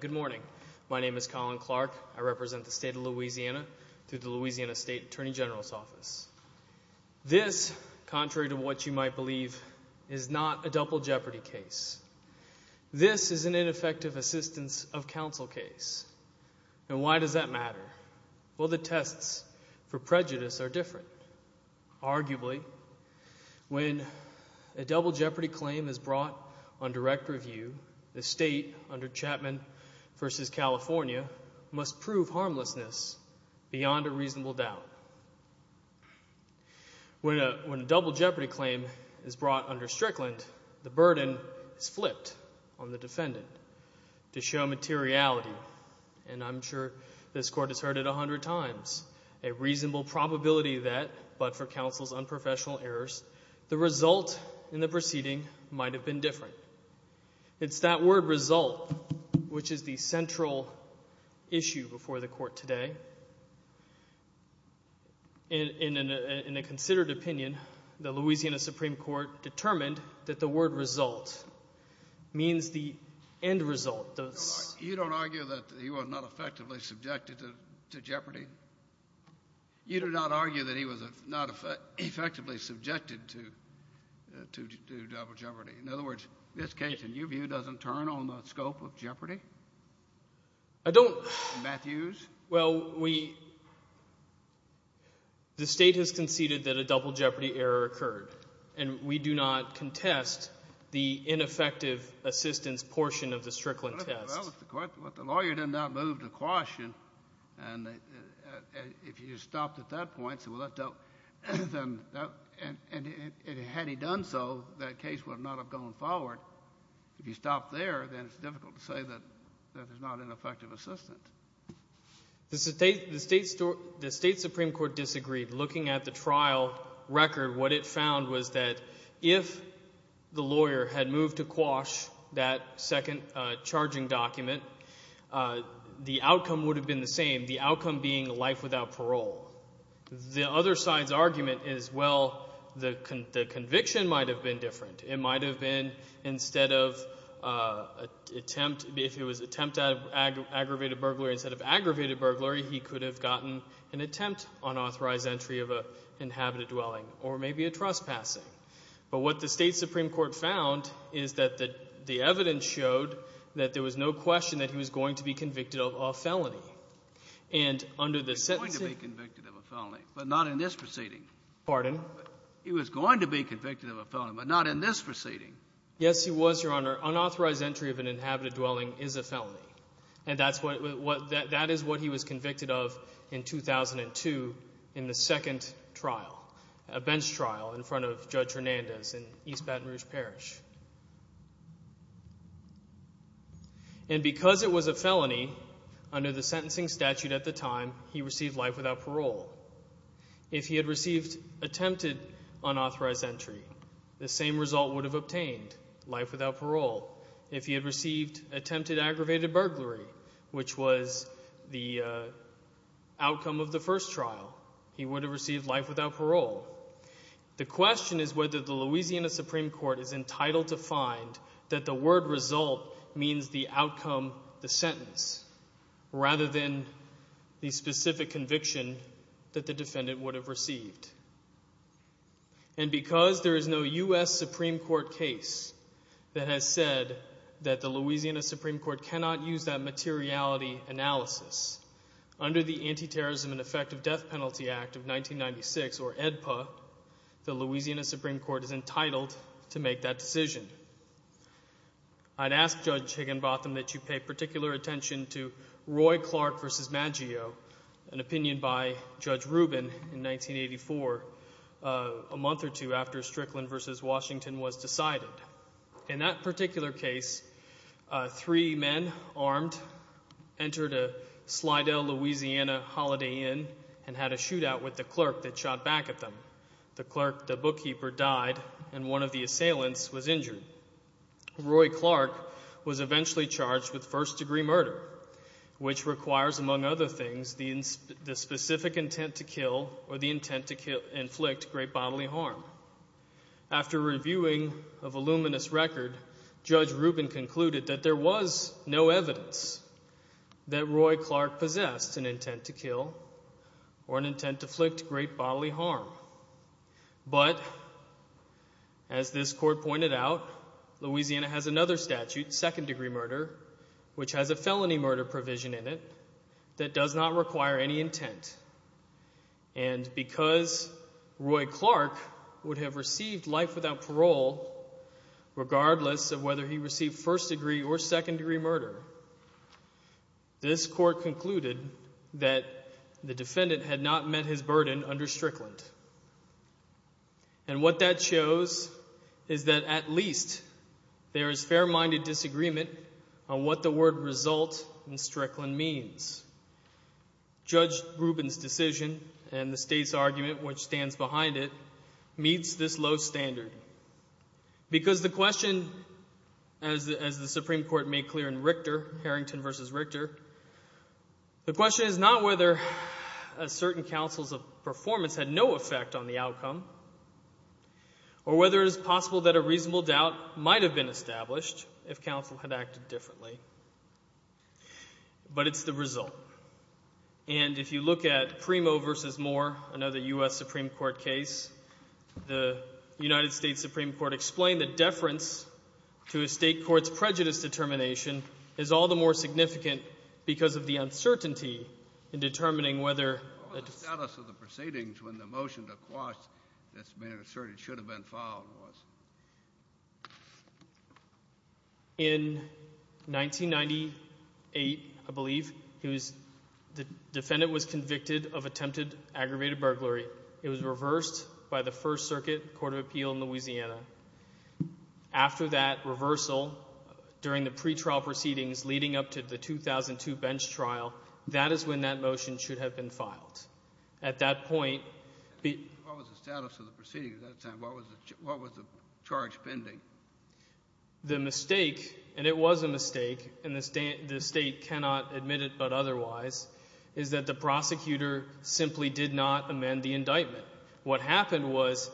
Good morning. My name is Colin Clark. I represent the state of Louisiana through the Louisiana State Attorney General's Office. This, contrary to what you might believe, is not a double jeopardy case. This is an ineffective assistance of counsel case. And why does that matter? Well, the tests for prejudice are different. Arguably, when a double jeopardy claim is brought on direct review, the state, under Chapman v. California, must prove harmlessness beyond a reasonable doubt. When a double jeopardy claim is brought under Strickland, the burden is flipped on the defendant to show materiality. And I'm sure this Court has heard it a hundred times. A reasonable probability that, but for counsel's unprofessional errors, the result in the proceeding might have been different. It's that word result which is the central issue before the Court today. In a considered opinion, the Louisiana Supreme Court determined that the word result means the end result. You don't argue that he was not effectively subjected to jeopardy? You do not argue that he was not effectively subjected to double jeopardy? In other words, this case, in your view, doesn't turn on the scope of jeopardy? I don't. Matthews? Well, we, the state has conceded that a double jeopardy error occurred. And we do not contest the ineffective assistance portion of the Strickland test. That was the question. But the lawyer did not move to caution. And if you stopped at that point, and had he done so, that case would not have gone forward. If you stopped there, then it's difficult to say that that is not ineffective assistance. The state Supreme Court disagreed. Looking at the trial record, what it found was that if the lawyer had moved to quash that second charging document, the outcome would have been the same. The outcome being life without parole. The other side's argument is, well, the conviction might have been different. It might have been, instead of attempt, if it was attempt at aggravated burglary, instead of aggravated burglary, he could have gotten an attempt on authorized entry of an inhabited dwelling, or maybe a trespassing. But what the state Supreme Court found is that the evidence showed that there was no question that he was going to be convicted of a felony. And under the sentencing— He was going to be convicted of a felony, but not in this proceeding. Pardon? He was going to be convicted of a felony, but not in this proceeding. Yes, he was, Your Honor. Unauthorized entry of an inhabited dwelling is a felony. And that is what he was convicted of in 2002 in the second trial, a bench trial, in front of Judge Hernandez in East Baton Rouge Parish. And because it was a felony, under the sentencing statute at the time, he received life without parole. If he had received attempted unauthorized entry, the same result would have obtained, life without parole. If he had received attempted aggravated burglary, which was the outcome of the first trial, he would have received life without parole. The question is whether the Louisiana Supreme Court is entitled to find that the word result means the outcome, the sentence, rather than the specific conviction that the defendant would have received. And because there is no U.S. Supreme Court case that has said that the Louisiana Supreme Court cannot use that materiality analysis, under the Anti-Terrorism and Effective Death Penalty Act of 1996, or AEDPA, the Louisiana Supreme Court is entitled to make that decision. I'd ask Judge Higginbotham that you pay particular attention to Roy Clark v. Maggio, an opinion by Judge Rubin in 1984, a month or two after Strickland v. Washington was decided. In that particular case, three men, armed, entered a Slidell, Louisiana, Holiday Inn, and had a shootout with the clerk that shot back at them. The clerk, the bookkeeper, died, and one of the assailants was injured. Roy Clark was eventually charged with first-degree murder, which requires, among other things, the specific intent to kill or the intent to inflict great bodily harm. After reviewing a voluminous record, Judge Rubin concluded that there was no evidence that Roy Clark possessed an intent to kill or an intent to inflict great bodily harm. But, as this court pointed out, Louisiana has another statute, second-degree murder, which has a felony murder provision in it that does not require any intent. And because Roy Clark would have received life without parole, regardless of whether he received first-degree or second-degree murder, this court concluded that the defendant had not met his burden under Strickland. And what that shows is that at least there is fair-minded disagreement on what the word result in Strickland means. Judge Rubin's decision and the state's argument, which stands behind it, meets this low standard. Because the question, as the Supreme Court made clear in Harrington v. Richter, the question is not whether a certain counsel's performance had no effect on the outcome or whether it is possible that a reasonable doubt might have been established if counsel had acted differently, but it's the result. And if you look at Primo v. Moore, another U.S. Supreme Court case, the United States Supreme Court explained that deference to a state court's prejudice determination is all the more significant because of the uncertainty in determining whether— What was the status of the proceedings when the motion to quash this man of assertion should have been filed was? In 1998, I believe, the defendant was convicted of attempted aggravated burglary. It was reversed by the First Circuit Court of Appeal in Louisiana. After that reversal, during the pretrial proceedings leading up to the 2002 bench trial, that is when that motion should have been filed. At that point— What was the status of the proceedings at that time? What was the charge pending? The mistake, and it was a mistake, and the state cannot admit it but otherwise, is that the prosecutor simply did not amend the indictment. What happened was—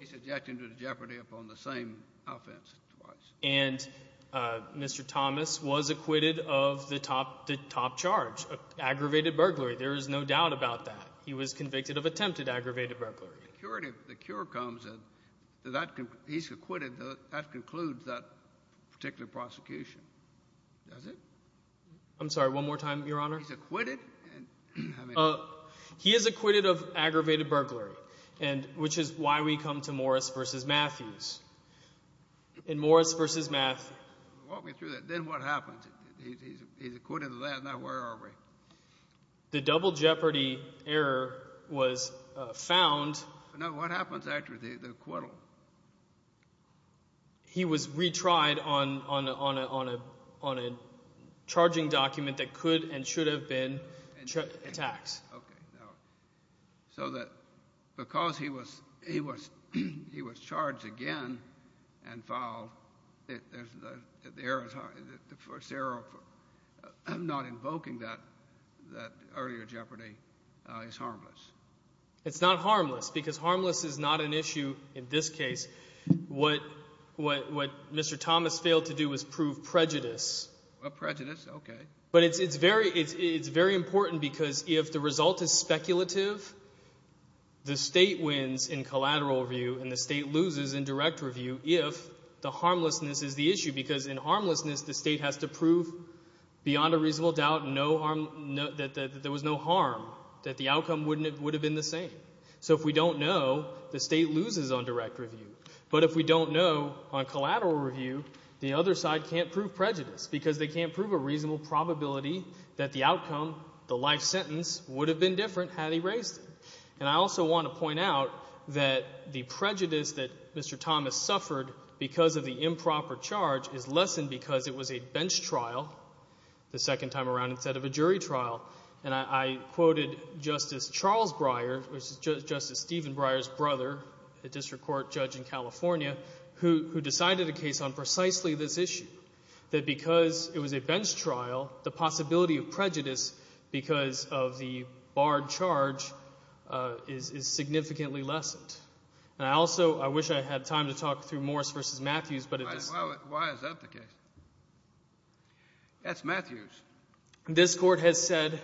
He's objecting to the jeopardy upon the same offense twice. And Mr. Thomas was acquitted of the top charge, aggravated burglary. There is no doubt about that. He was convicted of attempted aggravated burglary. The cure comes, and he's acquitted, that concludes that particular prosecution. Does it? He's acquitted? How many? He is acquitted of aggravated burglary, which is why we come to Morris v. Matthews. In Morris v. Matthews— Walk me through that. Then what happens? He's acquitted of that. Now, where are we? The double jeopardy error was found— Now, what happens after the acquittal? He was retried on a charging document that could and should have been attacks. So that because he was charged again and fouled, the first error of not invoking that earlier jeopardy is harmless? It's not harmless because harmless is not an issue in this case. What Mr. Thomas failed to do was prove prejudice. Well, prejudice, okay. But it's very important because if the result is speculative, the State wins in collateral review, and the State loses in direct review if the harmlessness is the issue because in harmlessness, the State has to prove beyond a reasonable doubt that there was no harm, that the outcome would have been the same. So if we don't know, the State loses on direct review. But if we don't know on collateral review, the other side can't prove prejudice because they can't prove a reasonable probability that the outcome, the life sentence, would have been different had he raised it. And I also want to point out that the prejudice that Mr. Thomas suffered because of the improper charge is lessened because it was a bench trial the second time around instead of a jury trial. And I quoted Justice Charles Breyer, Justice Stephen Breyer's brother, a district court judge in California, who decided a case on precisely this issue, that because it was a bench trial, the possibility of prejudice because of the barred charge is significantly lessened. And I also, I wish I had time to talk through Morris v. Matthews, but it just— Why is that the case? That's Matthews. This court has said—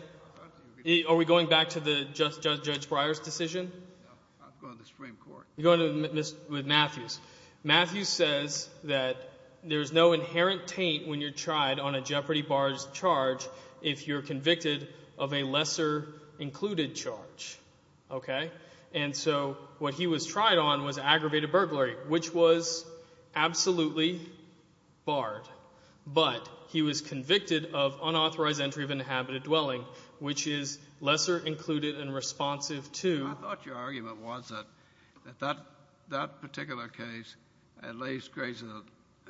Are we going back to the Judge Breyer's decision? No, I'm going to the Supreme Court. You're going with Matthews. Matthews says that there's no inherent taint when you're tried on a jeopardy barred charge if you're convicted of a lesser included charge, okay? And so what he was tried on was aggravated burglary, which was absolutely barred. But he was convicted of unauthorized entry of inhabited dwelling, which is lesser included and responsive to— I thought your argument was that that particular case at least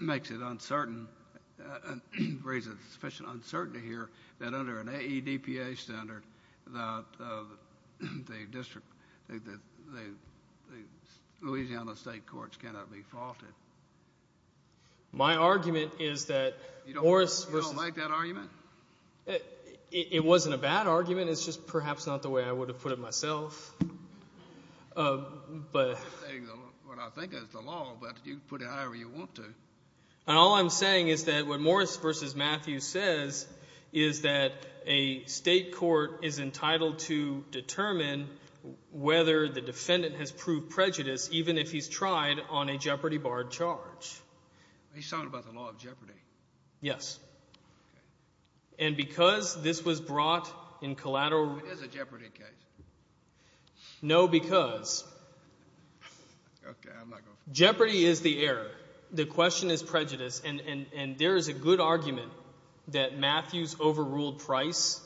makes it uncertain, raises sufficient uncertainty here, that under an AEDPA standard, the Louisiana State Courts cannot be faulted. My argument is that Morris— You don't like that argument? It wasn't a bad argument. It's just perhaps not the way I would have put it myself, but— I'm not saying what I think is the law, but you can put it however you want to. And all I'm saying is that what Morris v. Matthews says is that a state court is entitled to determine whether the defendant has proved prejudice even if he's tried on a jeopardy barred charge. He's talking about the law of jeopardy. Yes. And because this was brought in collateral— It is a jeopardy case. No, because— Okay, I'm not going to— Jeopardy is the error. The question is prejudice. And there is a good argument that Matthews overruled Price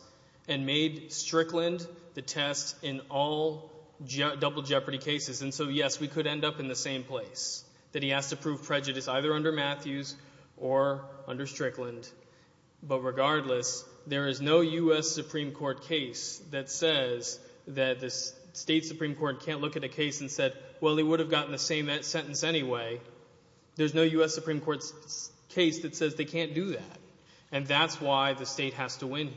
and made Strickland the test in all double jeopardy cases. And so, yes, we could end up in the same place, that he has to prove prejudice either under Matthews or under Strickland. But regardless, there is no U.S. Supreme Court case that says that the state Supreme Court can't look at a case and said, well, they would have gotten the same sentence anyway. There's no U.S. Supreme Court case that says they can't do that. And that's why the state has to win here.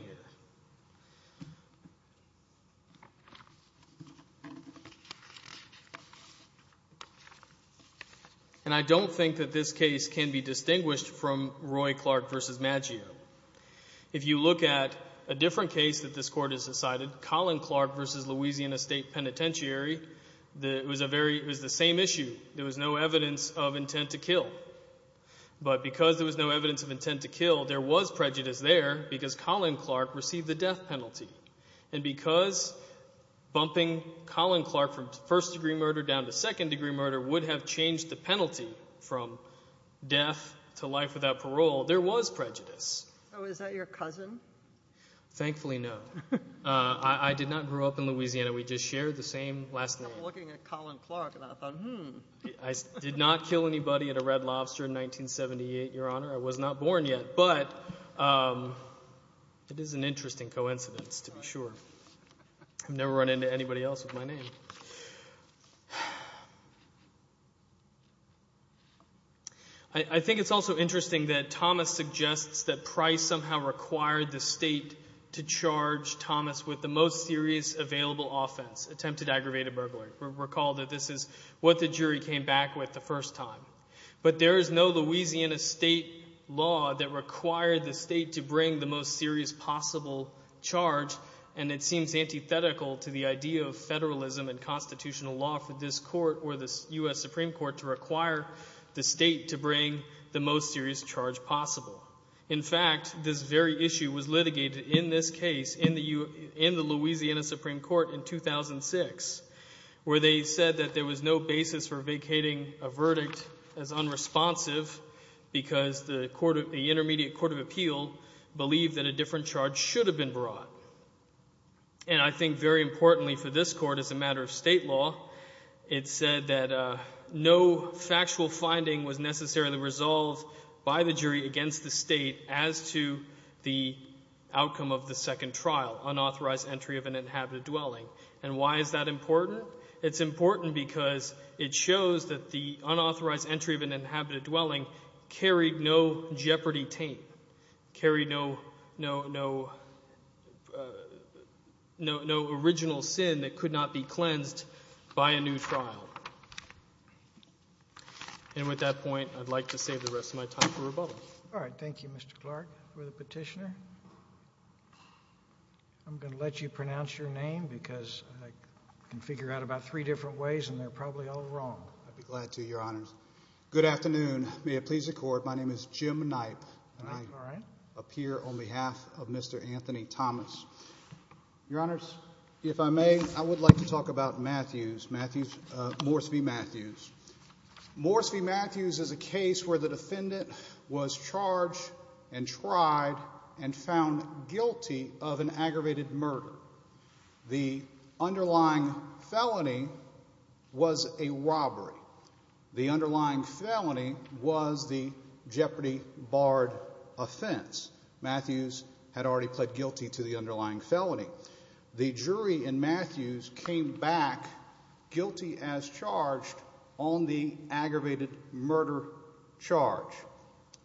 And I don't think that this case can be distinguished from Roy Clark v. Maggio. If you look at a different case that this court has decided, Collin Clark v. Louisiana State Penitentiary, it was the same issue. There was no evidence of intent to kill. But because there was no evidence of intent to kill, there was prejudice there because Collin Clark received the death penalty. And because bumping Collin Clark from first-degree murder down to second-degree murder would have changed the penalty from death to life without parole, there was prejudice. So is that your cousin? Thankfully, no. I did not grow up in Louisiana. We just shared the same last name. I'm looking at Collin Clark and I thought, hmm. I did not kill anybody at a Red Lobster in 1978, Your Honor. I was not born yet. But it is an interesting coincidence, to be sure. I've never run into anybody else with my name. But I think it's also interesting that Thomas suggests that Price somehow required the state to charge Thomas with the most serious available offense, attempted aggravated burglary. Recall that this is what the jury came back with the first time. But there is no Louisiana state law that required the state to bring the most serious possible charge, and it seems antithetical to the idea of federalism and constitutional law for this court, or the U.S. Supreme Court, to require the state to bring the most serious charge possible. In fact, this very issue was litigated in this case in the Louisiana Supreme Court in 2006, where they said that there was no basis for vacating a verdict as unresponsive because the intermediate court of appeal believed that a different charge should have been brought. And I think very importantly for this court, as a matter of state law, it said that no factual finding was necessarily resolved by the jury against the state as to the outcome of the second trial, unauthorized entry of an inhabited dwelling. And why is that important? It's important because it shows that the unauthorized entry of an inhabited dwelling carried no jeopardy taint, carried no original sin that could not be cleansed by a new trial. And with that point, I'd like to save the rest of my time for rebuttal. All right. Thank you, Mr. Clark, for the petitioner. I'm going to let you pronounce your name because I can figure out about three different ways, and they're probably all wrong. I'd be glad to, Your Honors. Good afternoon. May it please the court. My name is Jim Knipe, and I appear on behalf of Mr. Anthony Thomas. Your Honors, if I may, I would like to talk about Matthews, Morse v. Matthews. Morse v. Matthews is a case where the defendant was charged and tried and found guilty of an aggravated murder. The underlying felony was a robbery. The underlying felony was the jeopardy barred offense. Matthews had already pled guilty to the underlying felony. The jury in Matthews came back guilty as charged on the aggravated murder charge.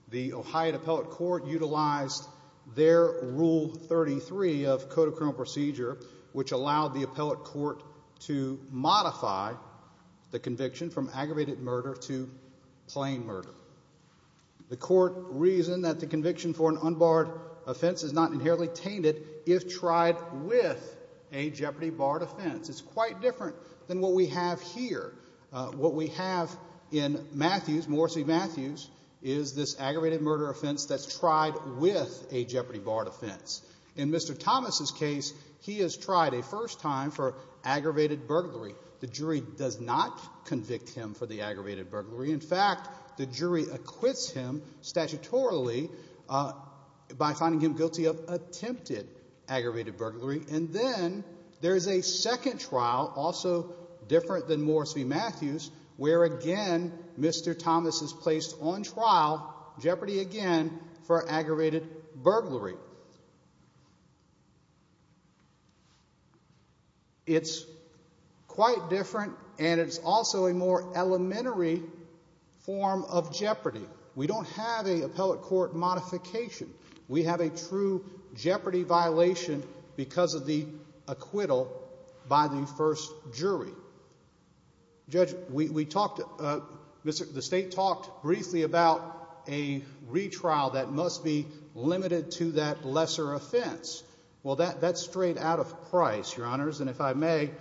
The Ohio Appellate Court utilized their Rule 33 of Code of Criminal Procedure, which allowed the appellate court to modify the conviction from aggravated murder to plain murder. The court reasoned that the conviction for an unbarred offense is not inherently tainted if tried with a jeopardy barred offense. It's quite different than what we have here. What we have in Matthews, Morse v. Matthews, is this aggravated murder offense that's tried with a jeopardy barred offense. In Mr. Thomas's case, he has tried a first time for aggravated burglary. The jury does not convict him for the aggravated burglary. In fact, the jury acquits him statutorily by finding him guilty of attempted aggravated burglary. And then there is a second trial, also different than Morse v. Matthews, where again Mr. Thomas is placed on trial, jeopardy again, for aggravated burglary. It's quite different and it's also a more elementary form of jeopardy. We don't have an appellate court modification. We have a true jeopardy violation because of the acquittal by the first jury. Judge, we talked, the state talked briefly about a retrial that must be Well, that's straight out of Price, Your Honors. And if I may,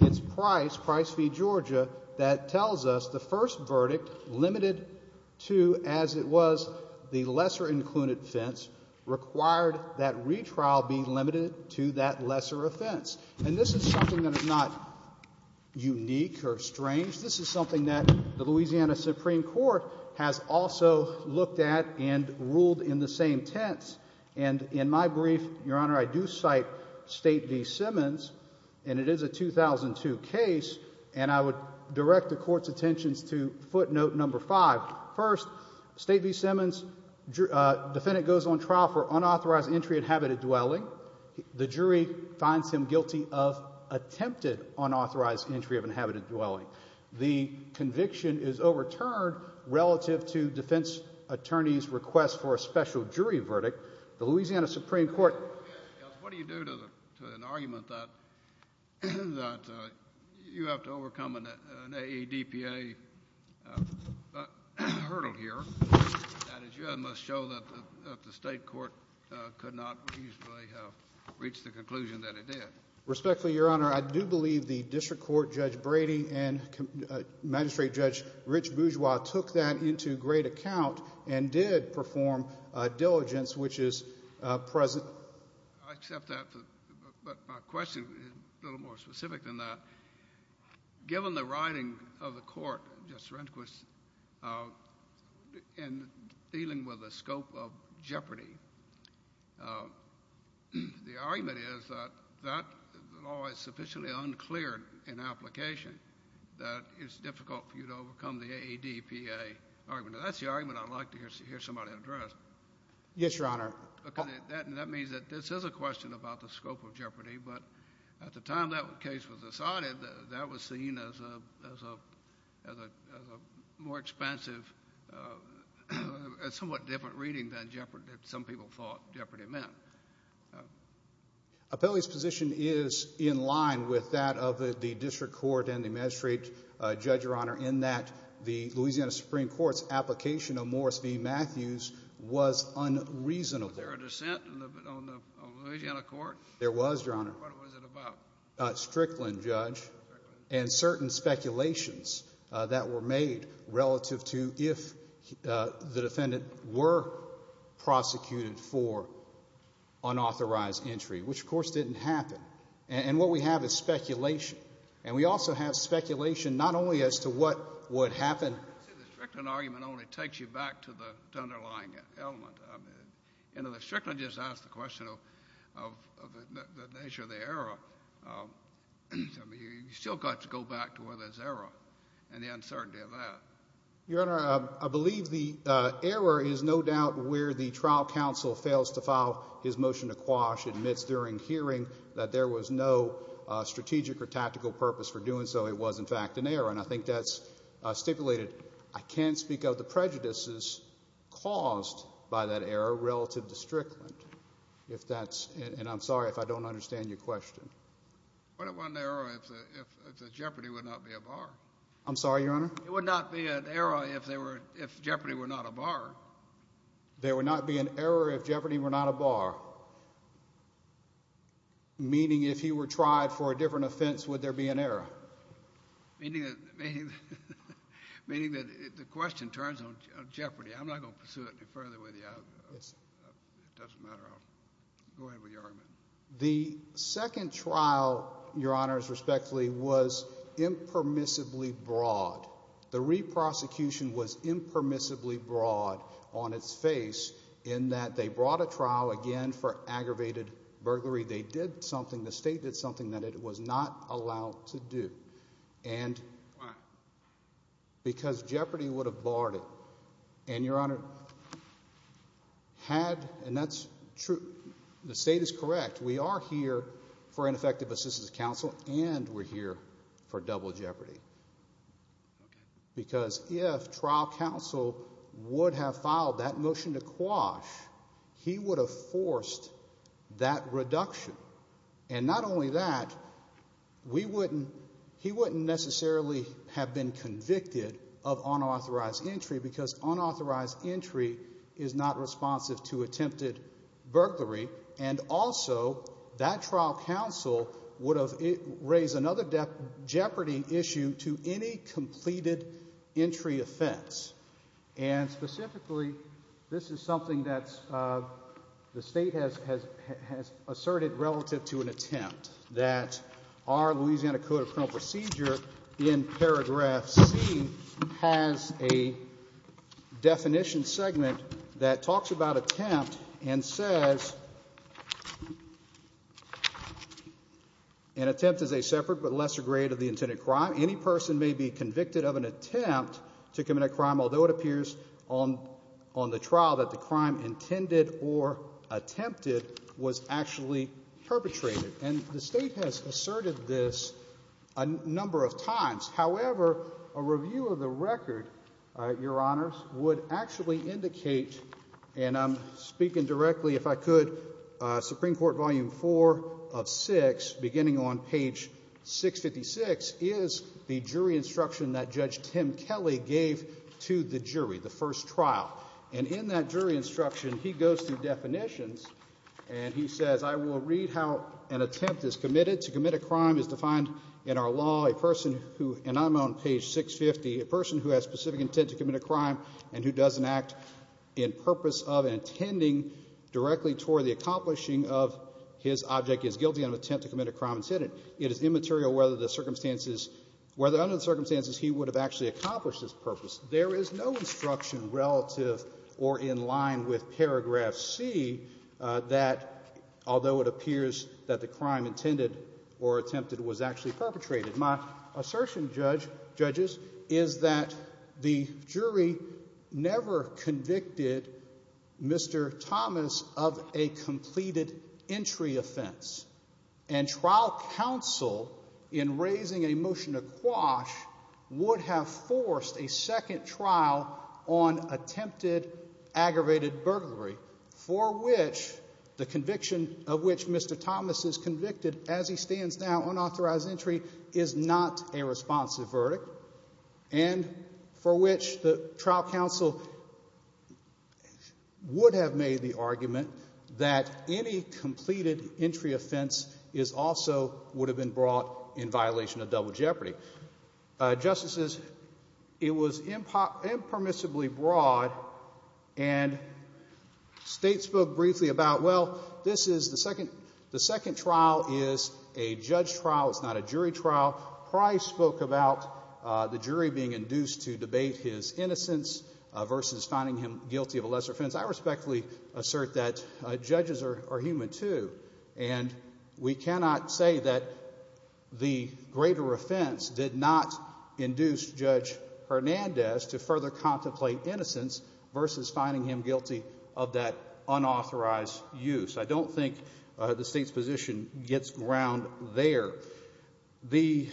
it's Price v. Georgia that tells us the first verdict, limited to as it was the lesser included offense, required that retrial be limited to that lesser offense. And this is something that is not unique or strange. This is something that the Louisiana Supreme Court has also looked at and ruled in the same tense. And in my brief, Your Honor, I do cite State v. Simmons, and it is a 2002 case. And I would direct the court's attentions to footnote number five. First, State v. Simmons, defendant goes on trial for unauthorized entry of inhabited dwelling. The jury finds him guilty of attempted unauthorized entry of inhabited dwelling. The conviction is overturned relative to defense attorney's request for a special jury verdict. The Louisiana Supreme Court What do you do to an argument that you have to overcome an AEDPA hurdle here? That is, you must show that the state court could not reasonably have reached the conclusion that it did. Respectfully, Your Honor, I do believe the district court, Judge Brady and Magistrate Judge Rich Bourgeois took that into great account and did perform a diligence, which is present. I accept that. But my question is a little more specific than that. Given the writing of the court, Justice Rehnquist, in dealing with the scope of jeopardy, the argument is that that law is sufficiently unclear in application that it's difficult for you to overcome the AEDPA argument. That's the argument I'd like to hear somebody address. Yes, Your Honor. That means that this is a question about the scope of jeopardy. But at the time that case was decided, that was seen as a more expansive, a somewhat different reading than some people thought jeopardy meant. Appellee's position is in line with that of the district court and the magistrate, Judge, Your Honor, in that the Louisiana Supreme Court's application of Morris v. Matthews was unreasonable. Was there a dissent on the Louisiana court? There was, Your Honor. What was it about? Strickland, Judge, and certain speculations that were made relative to if the defendant were prosecuted for unauthorized entry, which, of course, didn't happen. And what we have is speculation. And we also have speculation not only as to what would happen— I would say the Strickland argument only takes you back to the underlying element. You know, the Strickland just asked the question of the nature of the error. I mean, you still got to go back to where there's error. And the uncertainty of that. Your Honor, I believe the error is no doubt where the trial counsel fails to file his motion to quash, admits during hearing that there was no strategic or tactical purpose for doing so. It was, in fact, an error. And I think that's stipulated. I can't speak of the prejudices caused by that error relative to Strickland, if that's— and I'm sorry if I don't understand your question. What if it wasn't an error if Jeopardy would not be a bar? I'm sorry, Your Honor? It would not be an error if Jeopardy were not a bar. There would not be an error if Jeopardy were not a bar. Meaning, if he were tried for a different offense, would there be an error? Meaning that the question turns on Jeopardy. I'm not going to pursue it any further with you. It doesn't matter. I'll go ahead with your argument. The second trial, Your Honor, respectfully, was impermissibly broad. The re-prosecution was impermissibly broad on its face in that they brought a trial, again, for aggravated burglary. They did something, the state did something that it was not allowed to do. And because Jeopardy would have barred it. And, Your Honor, had, and that's true, the state is correct. We are here for ineffective assistance of counsel and we're here for double Jeopardy. Because if trial counsel would have filed that motion to quash, he would have forced that reduction. And not only that, he wouldn't necessarily have been convicted of unauthorized entry because unauthorized entry is not responsive to attempted burglary. And also, that trial counsel would have raised another Jeopardy issue to any completed entry offense. And specifically, this is something that the state has asserted relative to an attempt. That our Louisiana Code of Criminal Procedure, in paragraph C, has a definition segment that talks about attempt and says, an attempt is a separate but lesser grade of the intended crime. Any person may be convicted of an attempt to commit a crime, although it appears on the trial that the crime intended or attempted was actually perpetrated. And the state has asserted this a number of times. However, a review of the record, Your Honors, would actually indicate, and I'm speaking directly, if I could, Supreme Court Volume 4 of 6, beginning on page 656, is the jury instruction that Judge Tim Kelly gave to the jury, the first trial. And in that jury instruction, he goes through definitions and he says, I will read how an attempt is committed. To commit a crime is defined in our law. A person who, and I'm on page 650, a person who has specific intent to commit a crime and who doesn't act in purpose of and intending directly toward the accomplishing of his object is guilty of attempt to commit a crime intended. It is immaterial whether under the circumstances he would have actually accomplished this purpose. There is no instruction relative or in line with paragraph C that, although it appears that the crime intended or attempted was actually perpetrated. My assertion, judges, is that the jury never convicted Mr. Thomas of a completed entry offense. And trial counsel, in raising a motion to quash, would have forced a second trial on attempted aggravated burglary for which the conviction of which Mr. Thomas is convicted as he stands now, unauthorized entry, is not a responsive verdict. And for which the trial counsel would have made the argument that any completed entry offense is also would have been brought in violation of double jeopardy. Justices, it was impermissibly broad. And state spoke briefly about, well, this is the second trial is a judge trial. It's not a jury trial. Price spoke about the jury being induced to debate his innocence versus finding him guilty of a lesser offense. I respectfully assert that judges are human too. And we cannot say that the greater offense did not induce Judge Hernandez to further contemplate innocence versus finding him guilty of that unauthorized use. I don't think the state's position gets ground there. The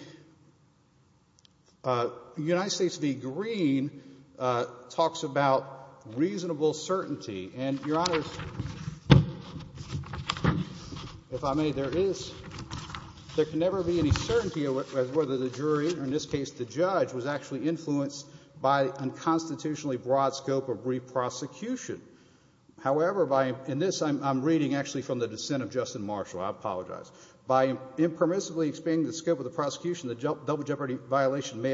United States v. Green talks about reasonable certainty. And, Your Honors, if I may, there can never be any certainty as whether the jury, or in this case the judge, was actually influenced by unconstitutionally broad scope of re-prosecution. However, in this I'm reading actually from the dissent of Justin Marshall. I apologize. By impermissibly expanding the scope of the prosecution, the double jeopardy violation may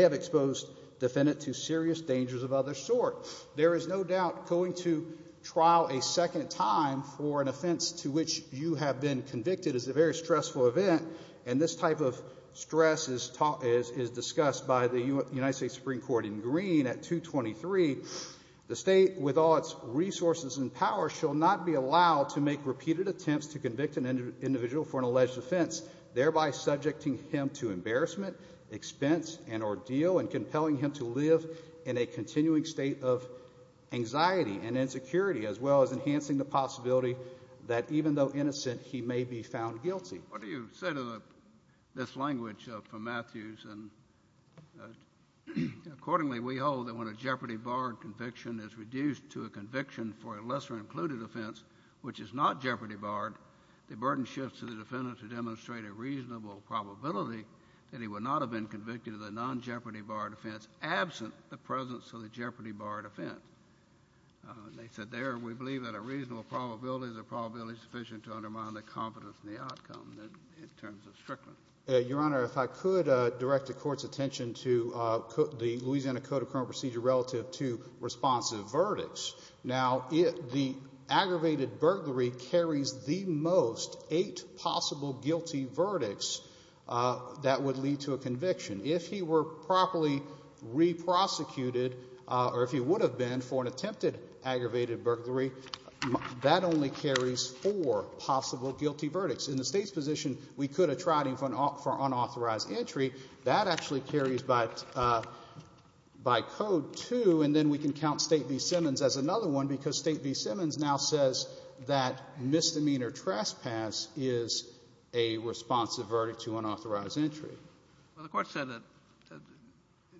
have exposed defendant to serious dangers of other sort. There is no doubt going to trial a second time for an offense to which you have been convicted is a very stressful event. And this type of stress is discussed by the United States Supreme Court in Green at 223. The state, with all its resources and power, shall not be allowed to make repeated attempts to convict an individual for an alleged offense, thereby subjecting him to embarrassment, expense, and ordeal, and compelling him to live in a continuing state of anxiety and insecurity, as well as enhancing the possibility that even though innocent, he may be found guilty. What do you say to this language from Matthews? Accordingly, we hold that when a jeopardy barred conviction is reduced to a conviction for a lesser-included offense, which is not jeopardy barred, the burden shifts to the defendant to demonstrate a reasonable probability that he would not have been convicted of an non-jeopardy barred offense absent the presence of the jeopardy barred offense. They said there, we believe that a reasonable probability is a probability sufficient to undermine the confidence in the outcome in terms of strictness. Your Honor, if I could direct the Court's attention to the Louisiana Code of Current Procedure relative to responsive verdicts. Now, the aggravated burglary carries the most eight possible guilty verdicts that would lead to a conviction. If he were properly re-prosecuted, or if he would have been for an attempted aggravated burglary, that only carries four possible guilty verdicts. In the State's position, we could have tried him for unauthorized entry. That actually carries by code, too, and then we can count State v. Simmons as another one because State v. Simmons now says that misdemeanor trespass is a responsive verdict to unauthorized entry. Well, the Court said that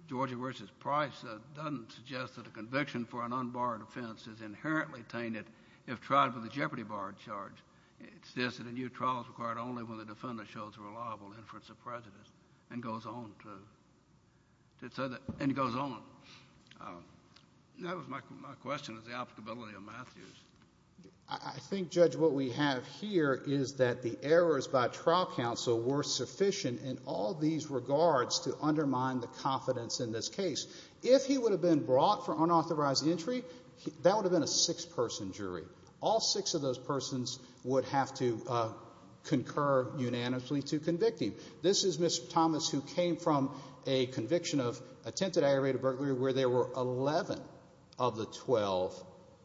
Georgia v. Price doesn't suggest that a conviction for an unbarred offense is inherently tainted if tried with a jeopardy barred charge. It says that a new trial is required only when the defendant shows a reliable inference of prejudice and goes on to, and goes on. That was my question, was the applicability of Matthews. I think, Judge, what we have here is that the errors by trial counsel were sufficient in all these regards to undermine the confidence in this case. If he would have been brought for unauthorized entry, that would have been a six-person jury. All six of those persons would have to concur unanimously to convict him. This is Mr. Thomas who came from a conviction of attempted aggravated burglary where there were 11 of the 12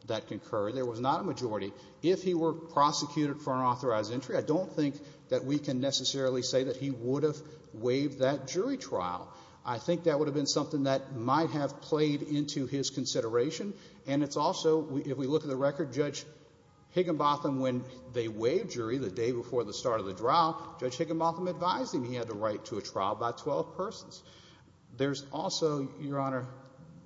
that concurred. There was not a majority. If he were prosecuted for unauthorized entry, I don't think that we can necessarily say that he would have waived that jury trial. I think that would have been something that might have played into his consideration, and it's also, if we look at the record, Judge Higginbotham, when they waived jury the day before the start of the trial, Judge Higginbotham advised him he had the right to a trial by 12 persons. There's also, Your Honor,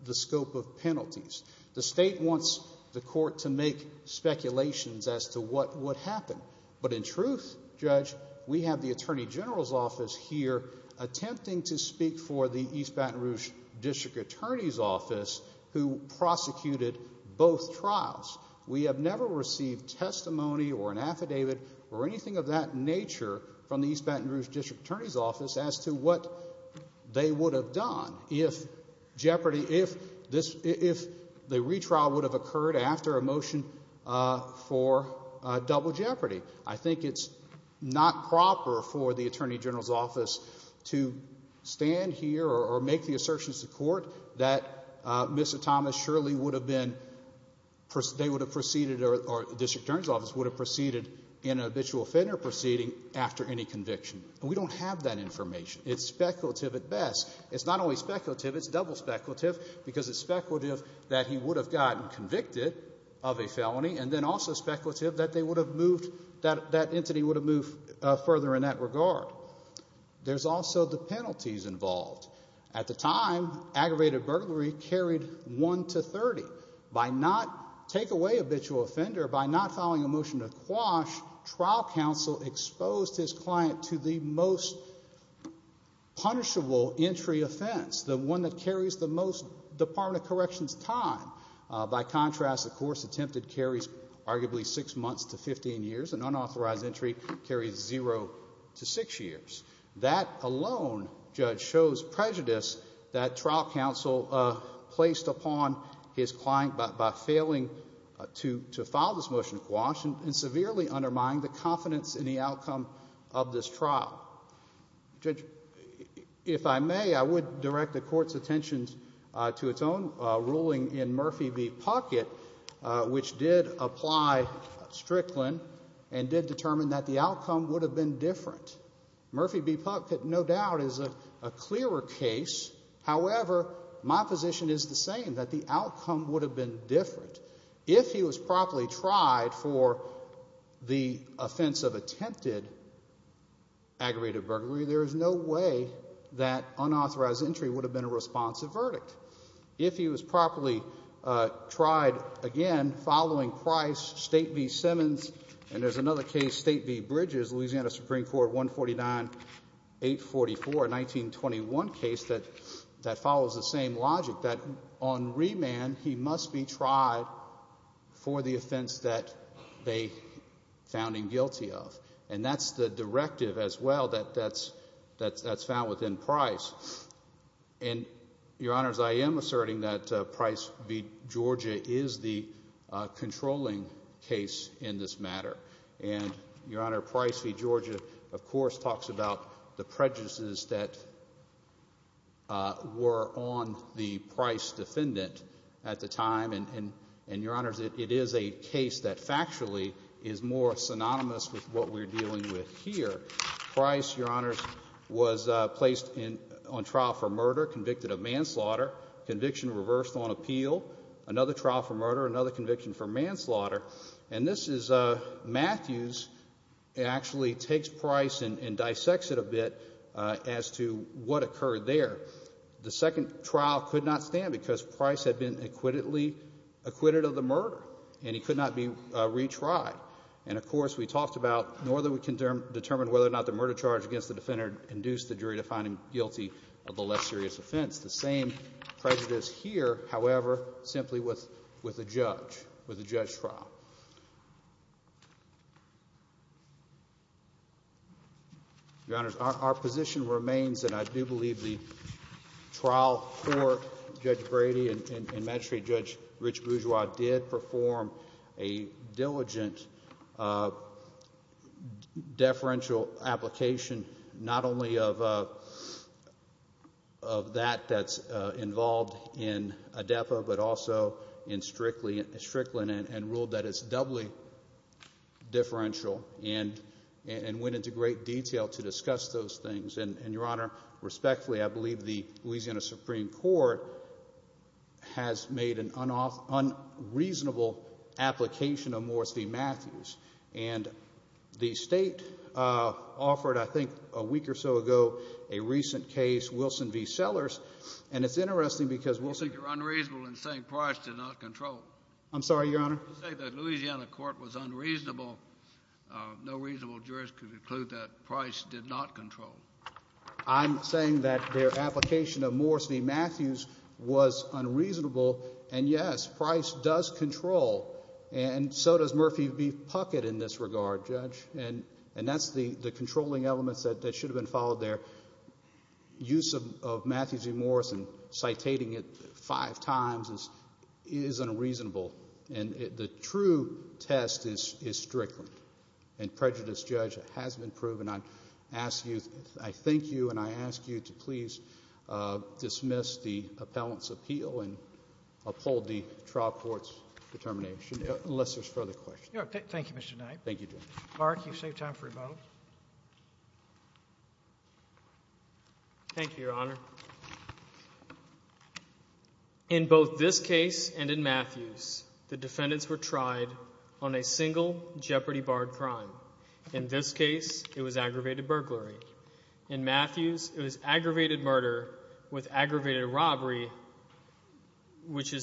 the scope of penalties. The State wants the Court to make speculations as to what would happen, but in truth, Judge, we have the Attorney General's Office here attempting to speak for the East Baton Rouge District Attorney's Office who prosecuted both trials. We have never received testimony or an affidavit or anything of that nature from the East Baton Rouge District Attorney's Office as to what they would have done if the retrial would have occurred after a motion for double jeopardy. I think it's not proper for the Attorney General's Office to stand here or make the assertions to court that Mr. Thomas surely would have been, they would have proceeded, or the District Attorney's Office would have proceeded in an habitual offender proceeding after any conviction. We don't have that information. It's speculative at best. It's not only speculative, it's double speculative because it's speculative that he would have gotten convicted of a felony and then also speculative that they would have moved, that entity would have moved further in that regard. There's also the penalties involved. At the time, aggravated burglary carried 1 to 30. By not, take away habitual offender, by not following a motion to quash, trial counsel exposed his client to the most punishable entry offense, the one that carries the most time in a correction's time. By contrast, a course attempted carries arguably 6 months to 15 years. An unauthorized entry carries 0 to 6 years. That alone, Judge, shows prejudice that trial counsel placed upon his client by failing to follow this motion to quash and severely undermining the confidence in the outcome of this trial. Judge, if I may, I would direct the Court's attention to its own ruling in Murphy v. Puckett, which did apply Strickland and did determine that the outcome would have been different. Murphy v. Puckett, no doubt, is a clearer case. However, my position is the same, that the outcome would have been different. If he was properly tried for the offense of attempted aggravated burglary, there is no way that unauthorized entry would have been a responsive verdict. If he was properly tried, again, following Price, State v. Simmons, and there's another case, State v. Bridges, Louisiana Supreme Court 149-844, a 1921 case that follows the same logic, that on remand, he must be tried for the offense that they found him guilty of, and that's the directive as well that's found within Price. And, Your Honors, I am asserting that Price v. Georgia is the controlling case in this matter, and, Your Honor, Price v. Georgia, of course, talks about the prejudices that were on the Price defendant at the time, and, Your Honors, it is a case that factually is more synonymous with what we're dealing with here. Price, Your Honors, was placed on trial for murder, convicted of manslaughter, conviction reversed on appeal, another trial for murder, another conviction for manslaughter, and this is, Matthews actually takes Price and dissects it a bit as to what occurred there. The second trial could not stand because Price had been acquitted of the murder, and he could not be retried. And, of course, we talked about, nor that we can determine whether or not the murder charge against the defender induced the jury to find him guilty of the less serious offense. The same prejudice here, however, simply with a judge, with a judge trial. Your Honors, our position remains that I do believe the trial for Judge Brady and Magistrate Judge Rich Bourgeois did perform a diligent deferential application, not only of that that's involved in ADEPA, but also in Strickland, and ruled that it's doubly deferential, and went into great detail to discuss those things. And, Your Honor, respectfully, I believe the Louisiana Supreme Court has made an unreasonable application of Morris v. Matthews, and the State offered, I think, a week or so ago, a recent case, Wilson v. Sellers, and it's interesting because— You say you're unreasonable in saying Price did not control. I'm sorry, Your Honor? You say the Louisiana court was unreasonable. No reasonable jurist could conclude that Price did not control. I'm saying that their application of Morris v. Matthews was unreasonable, and yes, Price does control, and so does Murphy v. Puckett in this regard, Judge, and that's the controlling elements that should have been followed there. Use of Matthews v. Morris and citating it five times is unreasonable, and the true test is Strickland, and prejudice, Judge, has been proven. I thank you, and I ask you to please dismiss the appellant's appeal and uphold the trial court's determination, unless there's further questions. Thank you, Mr. Knight. Thank you, Judge. Mark, you've saved time for rebuttal. Thank you, Your Honor. In both this case and in Matthews, the defendants were tried on a single jeopardy barred crime. In this case, it was aggravated burglary. In Matthews, it was aggravated murder with aggravated robbery, which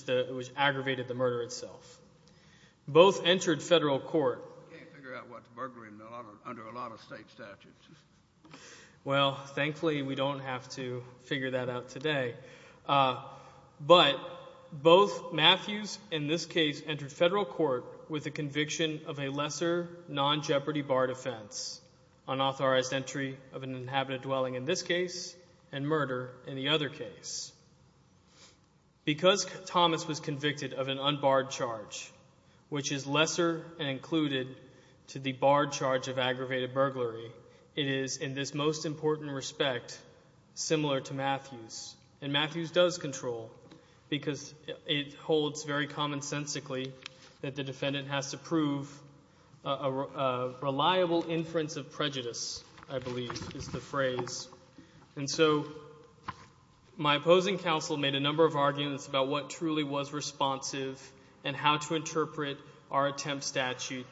aggravated the murder itself. Both entered federal court. Can't figure out what's burglary under a lot of state statutes. Well, thankfully, we don't have to figure that out today, but both Matthews in this case entered federal court with a conviction of a lesser non-jeopardy barred offense, unauthorized entry of an inhabited dwelling in this case, and murder in the other case. Because Thomas was convicted of an unbarred charge, which is lesser included to the barred charge of aggravated burglary, it is, in this most important respect, similar to Matthews. And Matthews does control because it holds very commonsensically that the defendant has to prove a reliable inference of prejudice, I believe is the phrase. And so my opposing counsel made a number of arguments about what truly was responsive and how to interpret our attempt statute.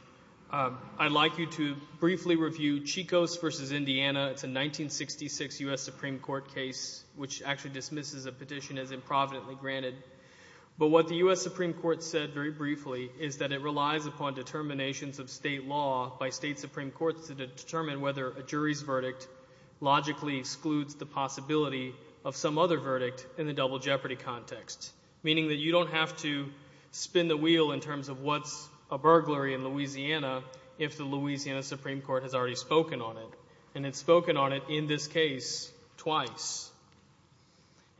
I'd like you to briefly review Chico's versus Indiana. It's a 1966 U.S. Supreme Court case, which actually dismisses a petition as improvidently granted. But what the U.S. Supreme Court said very briefly is that it relies upon determinations of state law by state Supreme Courts to determine whether a jury's verdict logically excludes the possibility of some other verdict in the double jeopardy context. Meaning that you don't have to spin the wheel in terms of what's a burglary in Louisiana if the Louisiana Supreme Court has already spoken on it. And it's spoken on it in this case twice.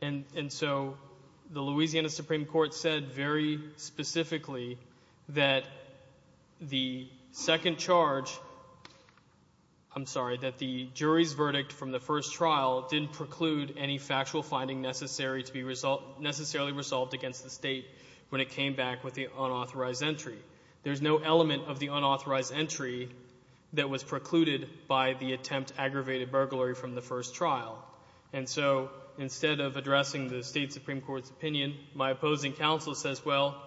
And so the Louisiana Supreme Court said very specifically that the second charge, I'm sorry, that the jury's verdict from the first trial didn't preclude any factual finding necessary to be necessarily resolved against the state when it came back with the unauthorized entry. There's no element of the unauthorized entry that was precluded by the attempt to aggravate a burglary from the first trial. And so instead of addressing the state Supreme Court's opinion, my opposing counsel says, well,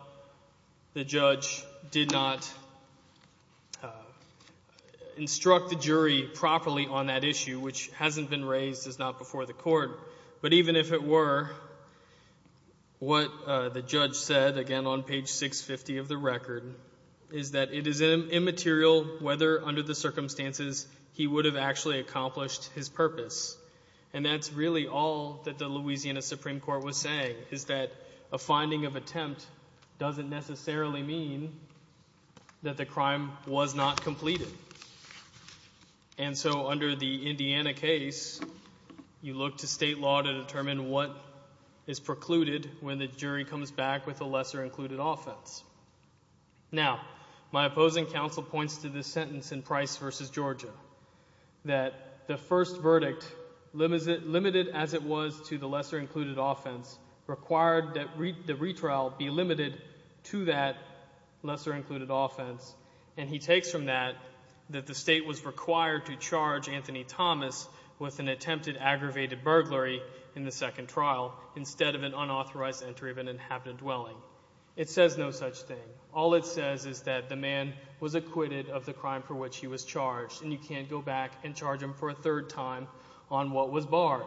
the judge did not instruct the jury properly on that issue, which hasn't been raised as not before the court. But even if it were, what the judge said, again on page 650 of the record, is that it is immaterial whether under the circumstances he would have actually accomplished his purpose. And that's really all that the Louisiana Supreme Court was saying, is that a finding of attempt doesn't necessarily mean that the crime was not completed. And so under the Indiana case, you look to state law to determine what is precluded when the jury comes back with a lesser-included offense. Now, my opposing counsel points to this sentence in Price v. Georgia, that the first verdict, limited as it was to the lesser-included offense, required that the retrial be limited to that lesser-included offense. And he takes from that that the state was required to charge Anthony Thomas with an attempted aggravated burglary in the second trial instead of an unauthorized entry of an inhabited dwelling. It says no such thing. All it says is that the man was acquitted of the crime for which he was charged, and you can't go back and charge him for a third time on what was barred.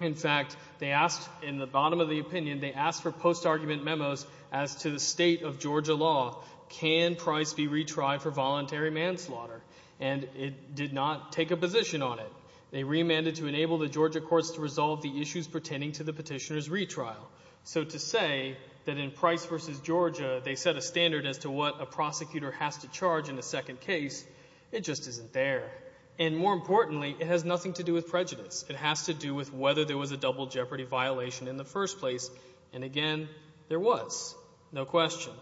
In fact, they asked, in the bottom of the opinion, they asked for post-argument memos as to the state of Georgia law. Can Price be retried for voluntary manslaughter? And it did not take a position on it. They remanded to enable the Georgia courts to resolve the issues pertaining to the petitioner's retrial. So to say that in Price v. Georgia, they set a standard as to what a prosecutor has to charge in a second case, it just isn't there. And more importantly, it has nothing to do with prejudice. It has to do with whether there was a double jeopardy violation in the first place. And again, there was, no question.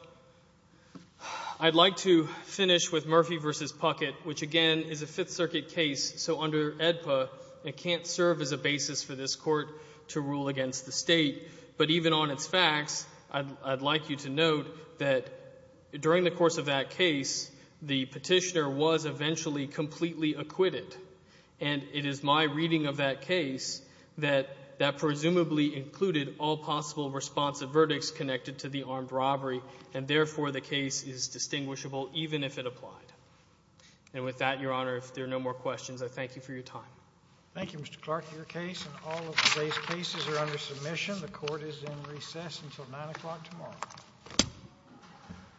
I'd like to finish with Murphy v. Puckett, which again is a Fifth Circuit case. So under AEDPA, it can't serve as a basis for this court to rule against the state. But even on its facts, I'd like you to note that during the course of that case, the petitioner was eventually completely acquitted. And it is my reading of that case that that presumably included all possible responsive verdicts connected to the armed robbery. And therefore, the case is distinguishable, even if it applied. And with that, Your Honor, if there are no more questions, I thank you for your time. Thank you, Mr. Clark. Your case and all of today's cases are under submission. The court is in recess until 9 o'clock tomorrow.